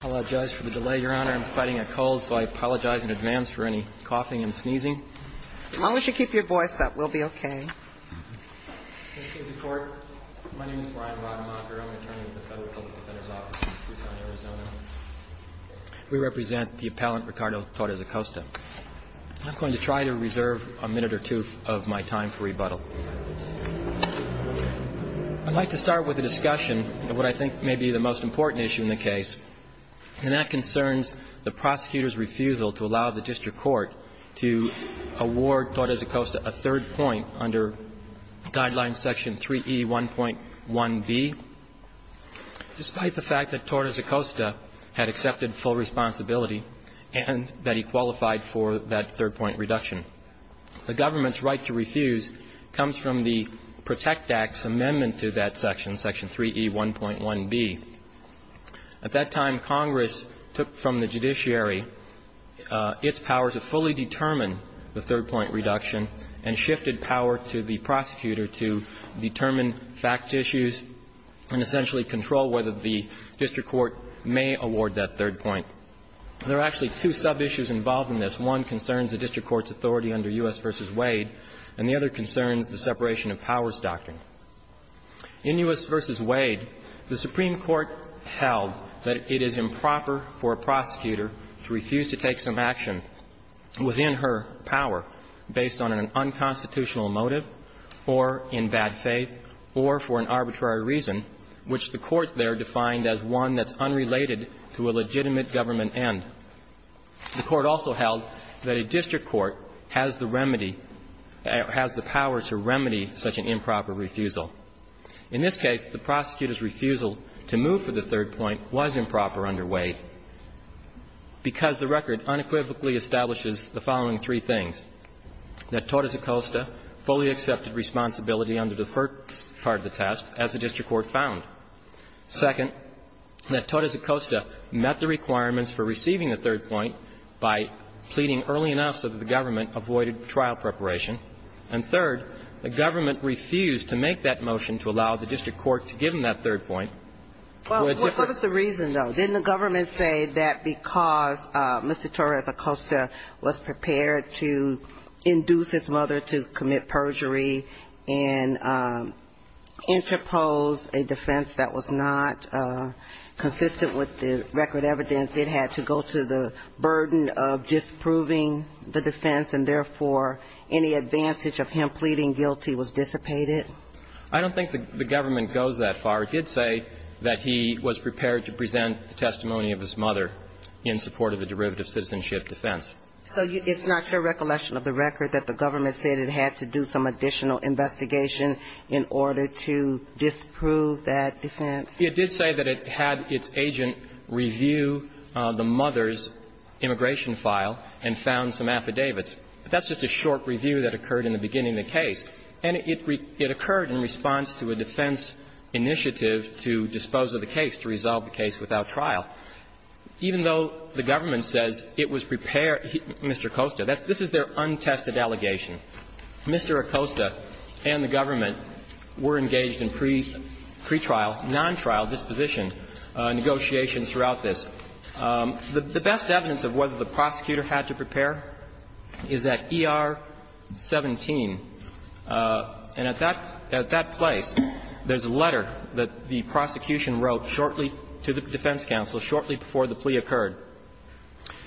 I apologize for the delay, Your Honor. I'm fighting a cold, so I apologize in advance for any coughing and sneezing. As long as you keep your voice up, we'll be okay. Thank you, Mr. Court. My name is Brian Rotemacher. I'm an attorney with the Federal Public Defender's Office in Tucson, Arizona. We represent the appellant Ricardo Torres-Acosta. I'm going to try to reserve a minute or two of my time for rebuttal. I'd like to start with a discussion of what I think may be the most important issue in the case. And that concerns the prosecutor's refusal to allow the district court to award Torres-Acosta a third point under Guidelines Section 3E1.1b, despite the fact that Torres-Acosta had accepted full responsibility and that he qualified for that third point reduction. The government's right to refuse comes from the Protect Act's amendment to that section, Section 3E1.1b. At that time, Congress took from the judiciary its power to fully determine the third point reduction and shifted power to the prosecutor to determine fact issues and essentially control whether the district court may award that third point. There are actually two sub-issues involved in this. One concerns the district court's authority under U.S. v. Wade, and the other concerns the separation of powers doctrine. In U.S. v. Wade, the Supreme Court held that it is improper for a prosecutor to refuse to take some action within her power based on an unconstitutional motive or in bad faith or for an arbitrary reason, which the Court there defined as one that's unrelated to a legitimate government end. The Court also held that a district court has the remedy, has the power to remedy such an improper refusal. In this case, the prosecutor's refusal to move for the third point was improper under Wade because the record unequivocally establishes the following three things. That Torres-Acosta fully accepted responsibility under the first part of the test, as the district court found. Second, that Torres-Acosta met the requirements for receiving the third point by pleading early enough so that the government avoided trial preparation. And third, the government refused to make that motion to allow the district court to give him that third point. What was the reason, though? Didn't the government say that because Mr. Torres-Acosta was prepared to induce his mother to commit perjury and interpose a defense that was not consistent with the record evidence, it had to go to the burden of disproving the defense and, therefore, any advantage of him pleading guilty was dissipated? I don't think the government goes that far. It did say that he was prepared to present the testimony of his mother in support of a derivative citizenship defense. So it's not your recollection of the record that the government said it had to do some additional investigation in order to disprove that defense? It did say that it had its agent review the mother's immigration file and found some affidavits. But that's just a short review that occurred in the beginning of the case. And it occurred in response to a defense initiative to dispose of the case, to resolve the case without trial. Even though the government says it was prepared, Mr. Acosta. This is their untested allegation. Mr. Acosta and the government were engaged in pretrial, non-trial disposition negotiations throughout this. The best evidence of whether the prosecutor had to prepare is at ER 17. And at that place, there's a letter that the prosecution wrote shortly to the defense counsel shortly before the plea occurred.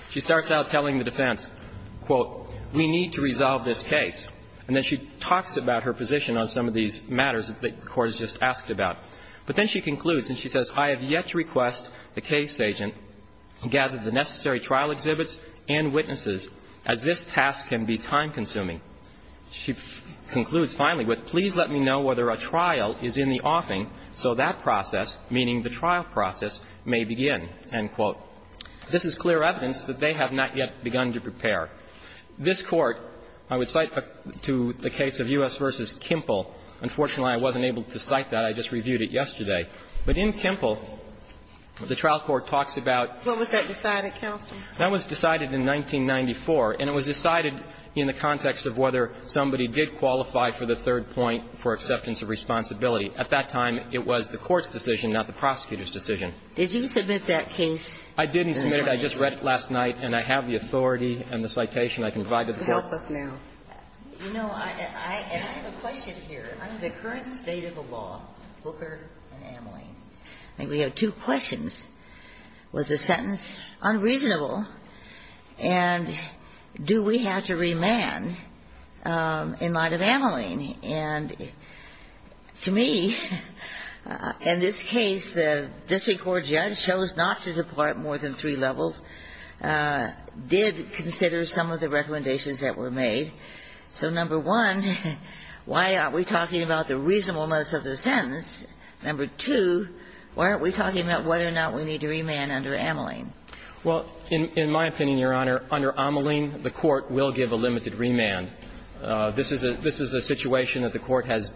She starts out telling the defense, quote, we need to resolve this case. And then she talks about her position on some of these matters that the Court has just asked about. But then she concludes and she says, I have yet to request the case agent gather the necessary trial exhibits and witnesses, as this task can be time-consuming. She concludes finally with, please let me know whether a trial is in the offing so that process, meaning the trial process, may begin, end quote. This is clear evidence that they have not yet begun to prepare. This Court, I would cite to the case of U.S. v. Kimple. Unfortunately, I wasn't able to cite that. I just reviewed it yesterday. But in Kimple, the trial court talks about. What was that decided, counsel? That was decided in 1994. And it was decided in the context of whether somebody did qualify for the third point for acceptance of responsibility. At that time, it was the Court's decision, not the prosecutor's decision. Did you submit that case? I didn't submit it. I just read it last night. And I have the authority and the citation I can provide to the Court. Help us now. You know, I have a question here. Under the current state of the law, Booker and Ameline, we have two questions. Was the sentence unreasonable? And do we have to remand in light of Ameline? And to me, in this case, the district court judge chose not to depart more than three levels, did consider some of the recommendations that were made. So, number one, why aren't we talking about the reasonableness of the sentence? Number two, why aren't we talking about whether or not we need to remand under Ameline? Well, in my opinion, Your Honor, under Ameline, the Court will give a limited remand. This is a situation that the Court has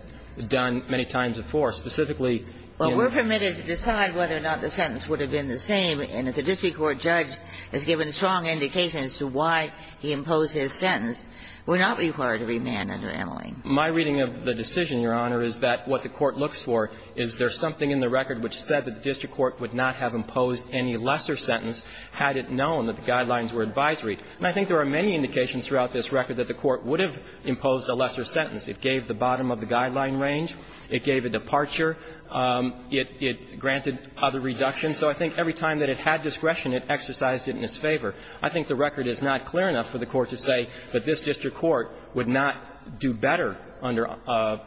done many times before, specifically in the case of Booker and Ameline. Well, we're permitted to decide whether or not the sentence would have been the same. And if the district court judge has given strong indications as to why he imposed his sentence, we're not required to remand under Ameline. My reading of the decision, Your Honor, is that what the Court looks for is there is something in the record which said that the district court would not have imposed any lesser sentence had it known that the guidelines were advisory. And I think there are many indications throughout this record that the Court would have imposed a lesser sentence. It gave the bottom of the guideline range. It gave a departure. It granted other reductions. So I think every time that it had discretion, it exercised it in its favor. I think the record is not clear enough for the Court to say that this district court would not do better under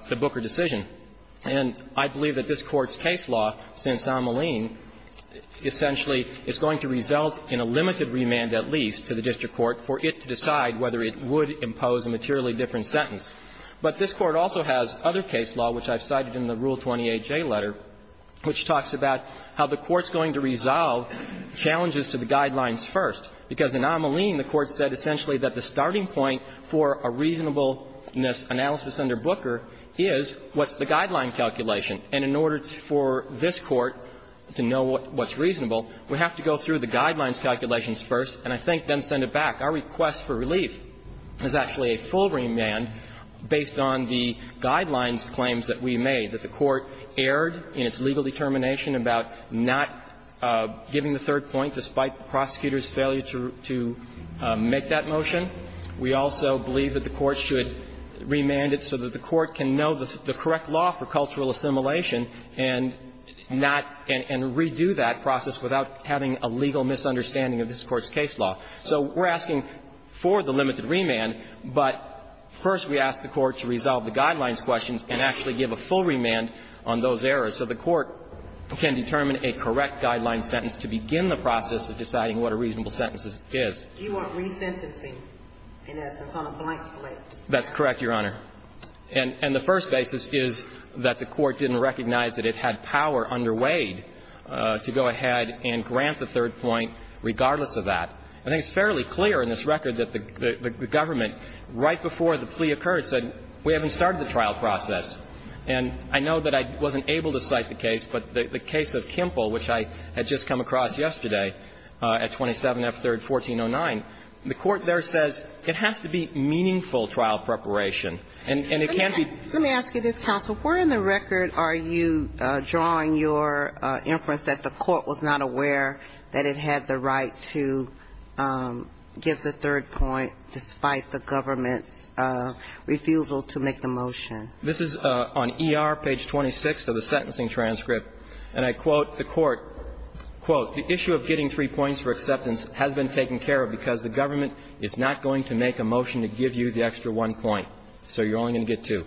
the Booker decision. And I believe that this Court's case law, since Ameline, essentially is going to result in a limited remand, at least, to the district court for it to decide whether it would impose a materially different sentence. But this Court also has other case law, which I've cited in the Rule 28J letter, which talks about how the Court's going to resolve challenges to the guidelines first. Because in Ameline, the Court said essentially that the starting point for a reasonableness analysis under Booker is what's the guideline calculation. And in order for this Court to know what's reasonable, we have to go through the guidelines calculations first, and I think then send it back. Our request for relief is actually a full remand based on the guidelines claims that we made, that the Court erred in its legal determination about not giving the third point despite the prosecutor's failure to make that motion. We also believe that the Court should remand it so that the Court can know the correct law for cultural assimilation and not and redo that process without having a legal misunderstanding of this Court's case law. So we're asking for the limited remand, but first we ask the Court to resolve the guidelines questions and actually give a full remand on those errors so the Court can determine a correct guideline sentence to begin the process of deciding what a reasonable sentence is. You want resentencing, in essence, on a blank slate. That's correct, Your Honor. And the first basis is that the Court didn't recognize that it had power under Wade to go ahead and grant the third point regardless of that. I think it's fairly clear in this record that the government, right before the plea occurred, said we haven't started the trial process. And I know that I wasn't able to cite the case, but the case of Kempel, which I had just come across yesterday at 27F3rd 1409, the Court there says it has to be meaningful trial preparation, and it can't be. Let me ask you this, counsel. Where in the record are you drawing your inference that the Court was not aware that it had the right to give the third point despite the government's refusal to make the motion? This is on ER, page 26 of the sentencing transcript. And I quote the Court, quote, "...the issue of getting three points for acceptance has been taken care of because the government is not going to make a motion to give you the extra one point." So you're only going to get two.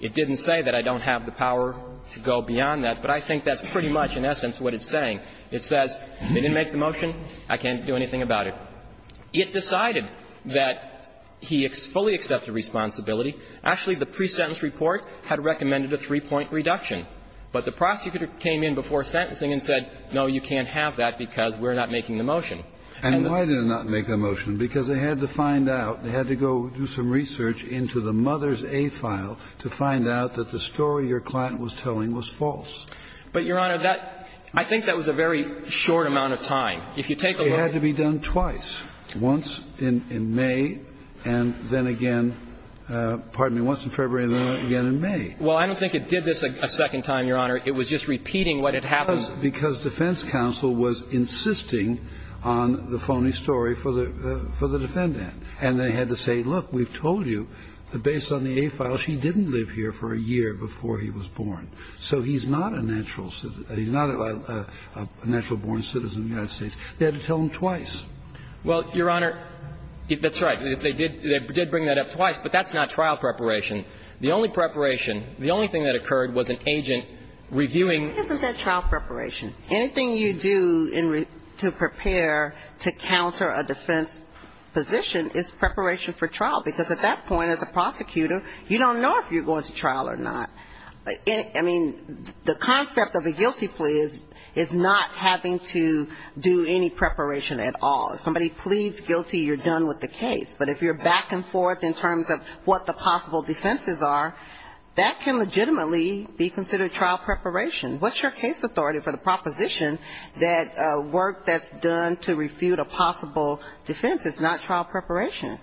It didn't say that I don't have the power to go beyond that, but I think that's pretty much in essence what it's saying. It says they didn't make the motion, I can't do anything about it. It decided that he fully accepted responsibility. Actually, the pre-sentence report had recommended a three-point reduction. But the prosecutor came in before sentencing and said, no, you can't have that because we're not making the motion. And the ---- And why did it not make the motion? Because they had to find out, they had to go do some research into the mother's A file to find out that the story your client was telling was false. But, Your Honor, that ---- I think that was a very short amount of time. If you take a look ---- It had to be done twice, once in May and then again ---- pardon me, once in February and then again in May. Well, I don't think it did this a second time, Your Honor. It was just repeating what had happened. Because defense counsel was insisting on the phony story for the defendant. And they had to say, look, we've told you that based on the A file, she didn't live here for a year before he was born. So he's not a natural ---- he's not a natural-born citizen of the United States. They had to tell him twice. Well, Your Honor, that's right. They did bring that up twice, but that's not trial preparation. The only preparation, the only thing that occurred was an agent reviewing ---- It isn't that trial preparation. Anything you do to prepare to counter a defense position is preparation for trial. Because at that point, as a prosecutor, you don't know if you're going to trial or not. I mean, the concept of a guilty plea is not having to do any preparation at all. If somebody pleads guilty, you're done with the case. But if you're back and forth in terms of what the possible defenses are, that can legitimately be considered trial preparation. What's your case authority for the proposition that work that's done to refute a possible defense is not trial preparation?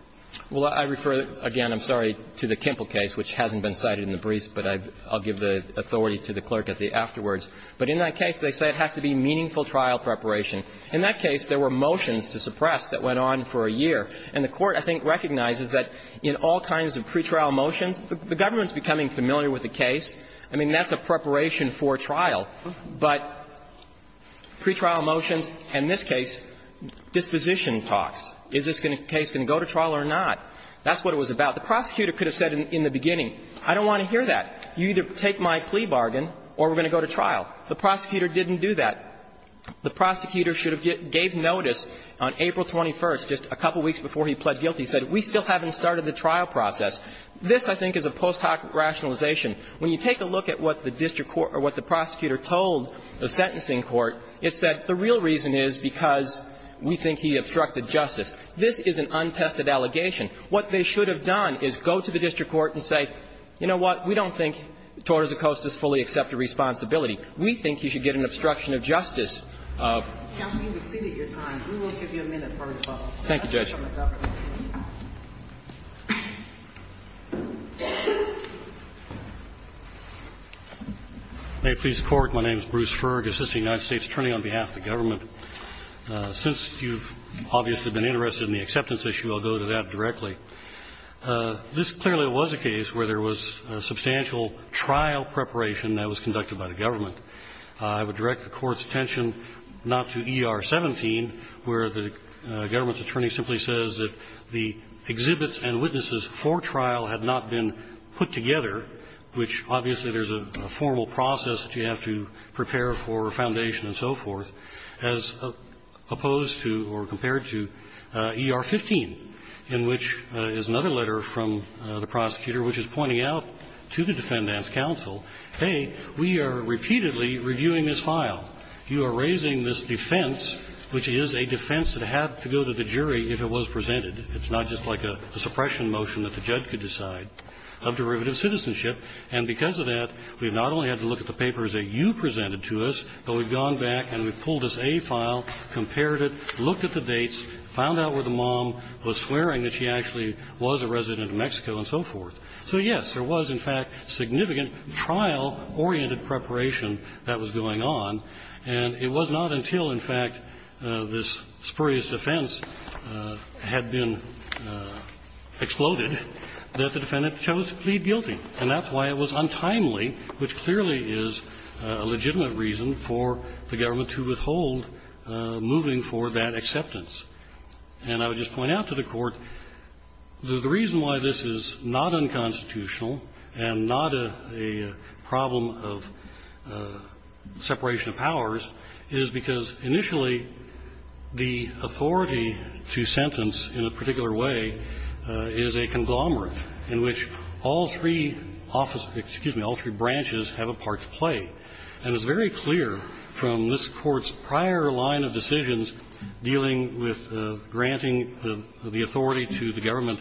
Well, I refer, again, I'm sorry, to the Kimple case, which hasn't been cited in the briefs, but I'll give the authority to the clerk at the afterwards. But in that case, they say it has to be meaningful trial preparation. In that case, there were motions to suppress that went on for a year. And the Court, I think, recognizes that in all kinds of pretrial motions, the government's becoming familiar with the case. I mean, that's a preparation for trial. But pretrial motions, in this case, disposition talks. Is this case going to go to trial or not? That's what it was about. The prosecutor could have said in the beginning, I don't want to hear that. You either take my plea bargain or we're going to go to trial. The prosecutor didn't do that. The prosecutor should have gave notice on April 21st, just a couple weeks before he pled guilty, said we still haven't started the trial process. This, I think, is a post hoc rationalization. When you take a look at what the district court or what the prosecutor told the sentencing court, it said the real reason is because we think he obstructed justice. This is an untested allegation. What they should have done is go to the district court and say, you know what, we don't think Torres-Coast is fully accepted responsibility. We think he should get an obstruction of justice. Thank you, Judge. May it please the Court. My name is Bruce Ferg, assistant United States attorney on behalf of the government. Since you've obviously been interested in the acceptance issue, I'll go to that directly. This clearly was a case where there was substantial trial preparation that was conducted by the government. I would direct the Court's attention not to ER 17, where the government's attorney simply says that the exhibits and witnesses for trial had not been put together, which obviously there's a formal process that you have to prepare for a foundation and so forth, as opposed to or compared to ER 15, in which is another letter from the prosecutor, which is pointing out to the defendant's counsel, hey, we are repeatedly reviewing this file. You are raising this defense, which is a defense that had to go to the jury if it was presented. It's not just like a suppression motion that the judge could decide, of derivative citizenship. And because of that, we've not only had to look at the papers that you presented to us, but we've gone back and we've pulled this A file, compared it, looked at the dates, found out where the mom was swearing that she actually was a resident of Mexico and so forth. So, yes, there was, in fact, significant trial-oriented preparation that was going on, and it was not until, in fact, this spurious defense had been exploded that the defendant chose to plead guilty. And that's why it was untimely, which clearly is a legitimate reason for the government to withhold moving for that acceptance. And I would just point out to the Court that the reason why this is not unconstitutional and not a problem of separation of powers is because, initially, the authority to sentence in a particular way is a conglomerate in which all three office office of, excuse me, all three branches have a part to play. And it's very clear from this Court's prior line of decisions dealing with granting the authority to the government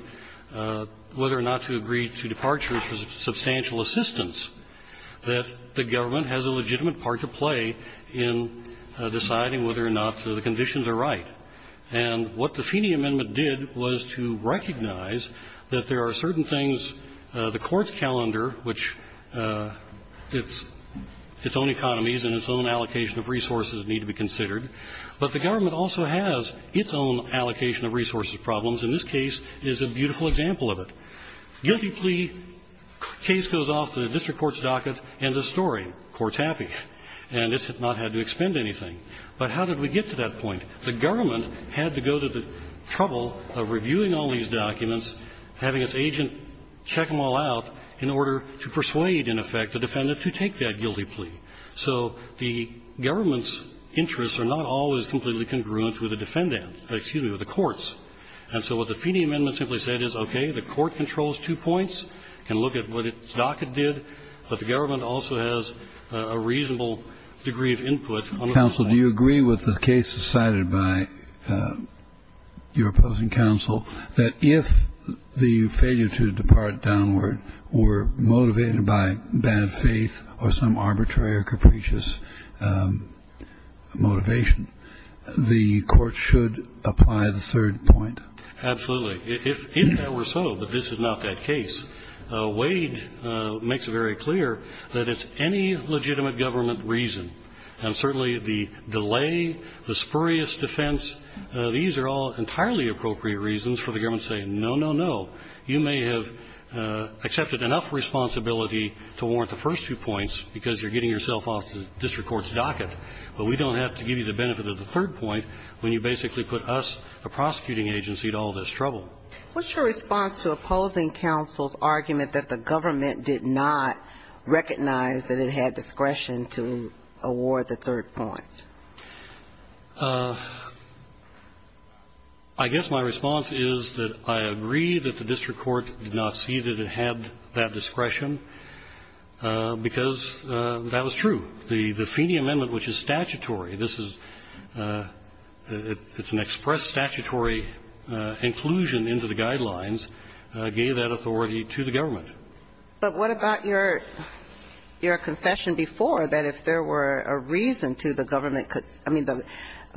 whether or not to agree to departure for substantial assistance that the government has a legitimate part to play in deciding whether or not the conditions are right. And what the Feeney Amendment did was to recognize that there are certain things that need to be considered, such as the Court's calendar, which its own economies and its own allocation of resources need to be considered, but the government also has its own allocation of resources problems, and this case is a beautiful example of it. Guilty plea case goes off the district court's docket, end of story. Court's happy. And this has not had to expend anything. But how did we get to that point? The government had to go to the trouble of reviewing all these documents, having its agent check them all out in order to persuade, in effect, the defendant to take that guilty plea. So the government's interests are not always completely congruent with the defendant or, excuse me, with the courts. And so what the Feeney Amendment simply said is, okay, the court controls two points, can look at what its docket did, but the government also has a reasonable degree of input on that side. Kennedy. Counsel, do you agree with the case decided by your opposing counsel that if the failure to depart downward were motivated by bad faith or some arbitrary or capricious motivation, the court should apply the third point? Absolutely. If that were so, but this is not that case, Wade makes it very clear that it's any legitimate government reason. And certainly the delay, the spurious defense, these are all entirely appropriate reasons for the government saying, no, no, no. You may have accepted enough responsibility to warrant the first two points because you're getting yourself off the district court's docket, but we don't have to give you the benefit of the third point when you basically put us, the prosecuting agency, to all this trouble. What's your response to opposing counsel's argument that the government did not recognize that it had discretion to award the third point? I guess my response is that I agree that the district court did not see that it had that discretion because that was true. The Feeney Amendment, which is statutory, this is an express statutory inclusion into the guidelines, gave that authority to the government. But what about your concession before that if there were a reason to the government could, I mean, the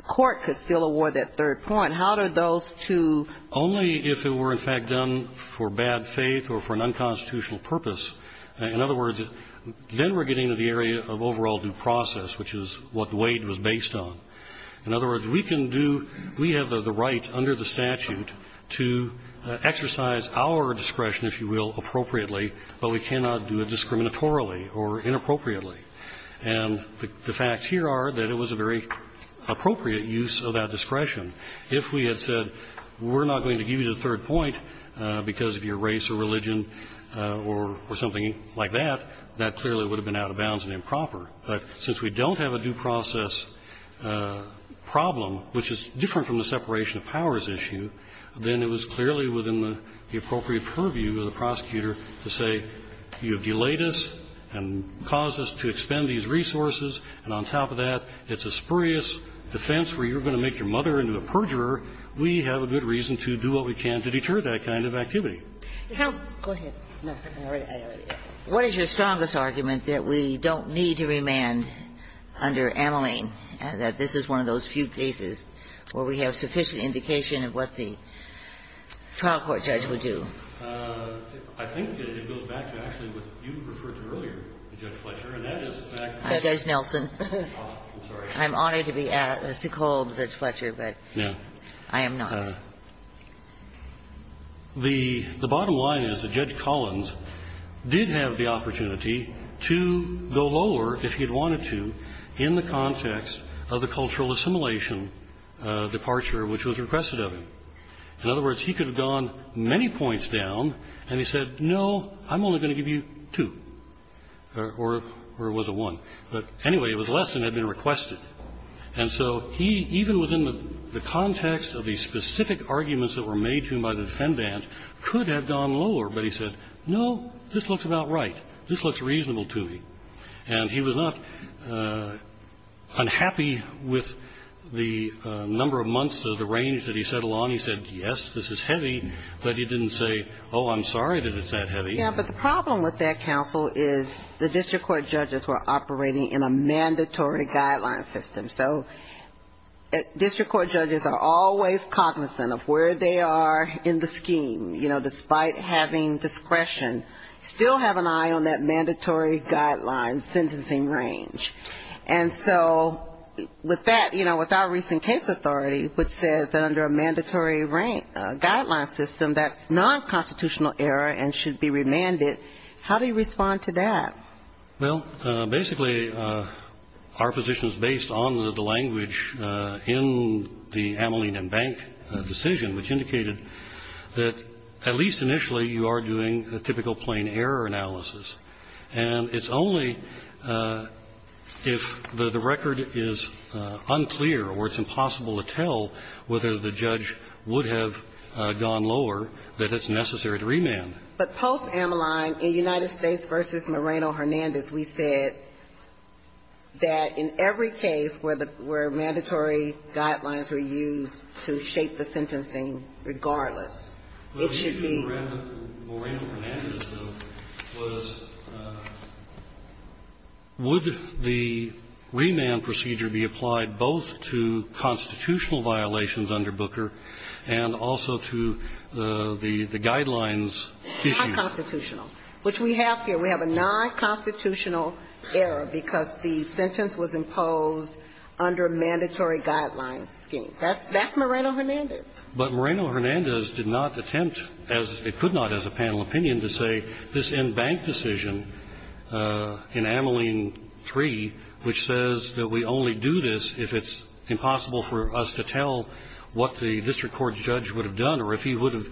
court could still award that third point? How do those two? Only if it were in fact done for bad faith or for an unconstitutional purpose. In other words, then we're getting to the area of overall due process, which is what Wade was based on. In other words, we can do, we have the right under the statute to exercise our discretion, if you will, appropriately, but we cannot do it discriminatorily or inappropriately. And the facts here are that it was a very appropriate use of that discretion. If we had said we're not going to give you the third point because of your race or religion or something like that, that clearly would have been out of bounds and improper. But since we don't have a due process problem, which is different from the separation of powers issue, then it was clearly within the appropriate purview of the prosecutor to say, you have delayed us and caused us to expend these resources, and on top of that, it's a spurious defense where you're going to make your mother into a perjurer, we have a good reason to do what we can to deter that kind of activity. Go ahead. What is your strongest argument that we don't need to remand under Ameline, that this is one of those few cases where we have sufficient indication of what the trial court judge would do? I think it goes back to actually what you referred to earlier, Judge Fletcher, and that is the fact that Judge Nelson. I'm sorry. I'm honored to be asked to call Judge Fletcher, but I am not. The bottom line is that Judge Collins did have the opportunity to go lower, if he had wanted to, in the context of the cultural assimilation departure which was requested of him. In other words, he could have gone many points down, and he said, no, I'm only going to give you two, or it was a one. But anyway, it was less than had been requested. And so he, even within the context of the specific arguments that were made to him by the defendant, could have gone lower, but he said, no, this looks about right. This looks reasonable to me. And he was not unhappy with the number of months or the range that he settled on. He said, yes, this is heavy. But he didn't say, oh, I'm sorry that it's that heavy. Yeah, but the problem with that, counsel, is the district court judges were operating in a mandatory guideline system. So district court judges are always cognizant of where they are in the scheme, you know, despite having discretion. Still have an eye on that mandatory guideline sentencing range. And so with that, you know, with our recent case authority, which says that under a mandatory guideline system, that's non-constitutional error and should be remanded, how do you respond to that? Well, basically our position is based on the language in the Ameline and Bank decision, which indicated that at least initially you are doing a typical plain error analysis. And it's only if the record is unclear or it's impossible to tell whether the judge would have gone lower that it's necessary to remand. But post-Ameline, in United States v. Moreno-Hernandez, we said that in every case where mandatory guidelines were used to shape the sentencing, regardless. It should be. But the issue with Moreno-Hernandez, though, was would the remand procedure be applied both to constitutional violations under Booker and also to the guidelines issues? Non-constitutional, which we have here. We have a non-constitutional error because the sentence was imposed under a mandatory guideline scheme. That's Moreno-Hernandez. But Moreno-Hernandez did not attempt, as it could not as a panel opinion, to say this in Bank decision in Ameline 3, which says that we only do this if it's impossible for us to tell what the district court judge would have done or if he would have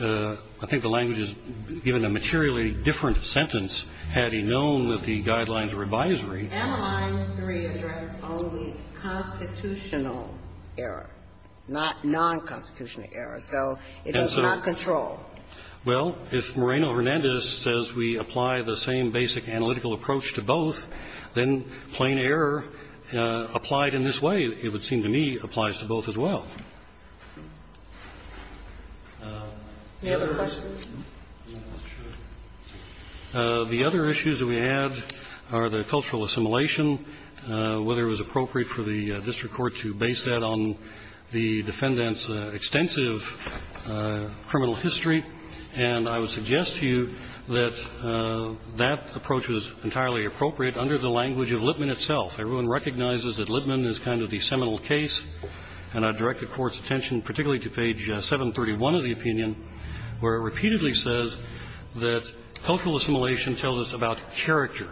I think the language is given a materially different sentence had he known that the guidelines were advisory. Ameline 3 addressed only constitutional error, not non-constitutional error. So it was not controlled. Well, if Moreno-Hernandez says we apply the same basic analytical approach to both, then plain error applied in this way, it would seem to me, applies to both as well. Any other questions? The other issues that we had are the cultural assimilation, whether it was appropriate for the district court to base that on the defendant's extensive criminal history. And I would suggest to you that that approach was entirely appropriate under the language of Lipman itself. Everyone recognizes that Lipman is kind of the seminal case, and I direct the Court's attention particularly to page 731 of the opinion, where it repeatedly says that cultural assimilation tells us about character.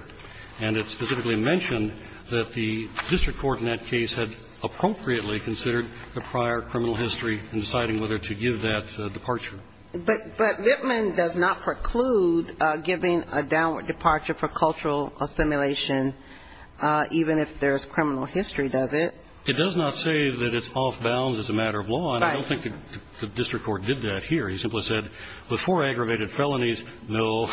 And it specifically mentioned that the district court in that case had appropriately considered the prior criminal history in deciding whether to give that departure. But Lipman does not preclude giving a downward departure for cultural assimilation even if there's criminal history, does it? It does not say that it's off-bounds as a matter of law, and I don't think the district court did that here. He simply said, with four aggravated felonies, no.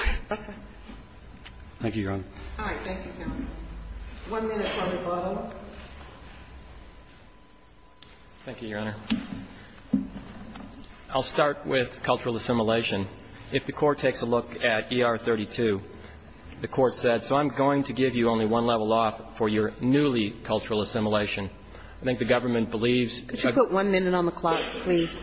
Thank you, Your Honor. All right. Thank you, counsel. One minute for rebuttal. Thank you, Your Honor. I'll start with cultural assimilation. If the Court takes a look at ER-32, the Court said, so I'm going to give you only one level off for your newly cultural assimilation. I think the government believes that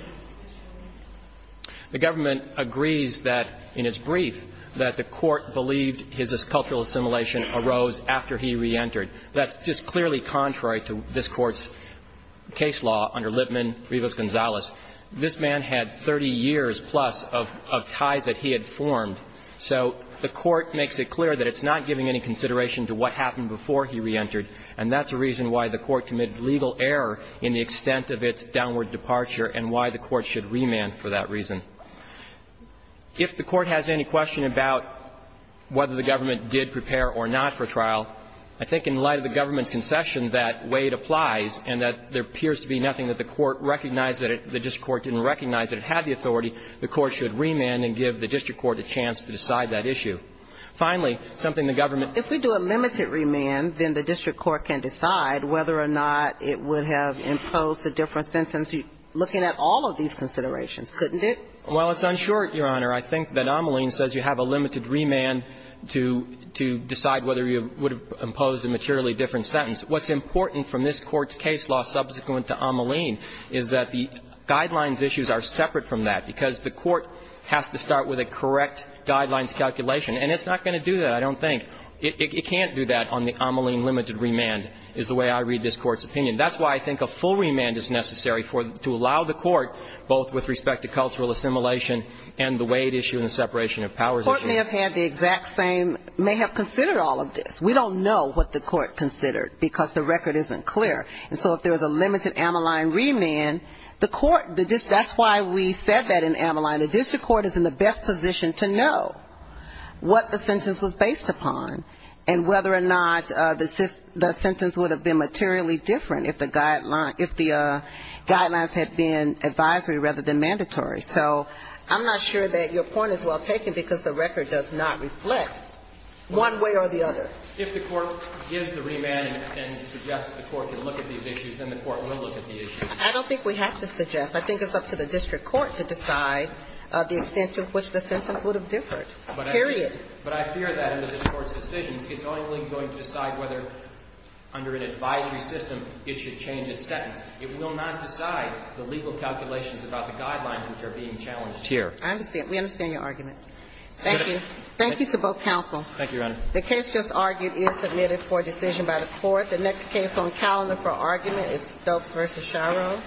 the Government agrees that, in its brief, that the Court believed his cultural assimilation arose after he reentered. That's just clearly contrary to this Court's case law under Lipman, Rivas-Gonzalez. This man had 30 years-plus of ties that he had formed, so the Court makes it clear that it's not giving any consideration to what happened before he reentered, and that's the reason why the Court committed legal error in the extent of its downward departure and why the Court should remand for that reason. If the Court has any question about whether the Government did prepare or not for trial, I think in light of the Government's concession that Wade applies and that there appears to be nothing that the Court recognized that the district court didn't recognize that it had the authority, the Court should remand and give the district court a chance to decide that issue. Finally, something the Government ---- If we do a limited remand, then the district court can decide whether or not it would have imposed a different sentence, looking at all of these considerations, couldn't it? Well, it's unsure, Your Honor. I think that Ameline says you have a limited remand to decide whether you would have imposed a materially different sentence. What's important from this Court's case law subsequent to Ameline is that the guidelines issues are separate from that, because the Court has to start with a correct guidelines calculation. And it's not going to do that, I don't think. It can't do that on the Ameline limited remand is the way I read this Court's opinion. That's why I think a full remand is necessary to allow the Court, both with respect to cultural assimilation and the Wade issue and the separation of powers issue. The Court may have had the exact same ---- may have considered all of this. We don't know what the Court considered, because the record isn't clear. And so if there was a limited Ameline remand, the Court ---- that's why we said that in Ameline. The district court is in the best position to know what the sentence was based upon and whether or not the sentence would have been materially different if the guidelines had been advisory rather than mandatory. So I'm not sure that your point is well taken, because the record does not reflect one way or the other. If the Court gives the remand and suggests the Court to look at these issues, then the Court will look at the issues. I don't think we have to suggest. I think it's up to the district court to decide the extent to which the sentence would have differed, period. But I fear that in this Court's decisions, it's only going to decide whether under an advisory system it should change its sentence. It will not decide the legal calculations about the guidelines which are being challenged here. I understand. We understand your argument. Thank you. Thank you to both counsel. Thank you, Your Honor. The case just argued is submitted for decision by the Court. The next case on the calendar for argument is Stokes v. Shiro.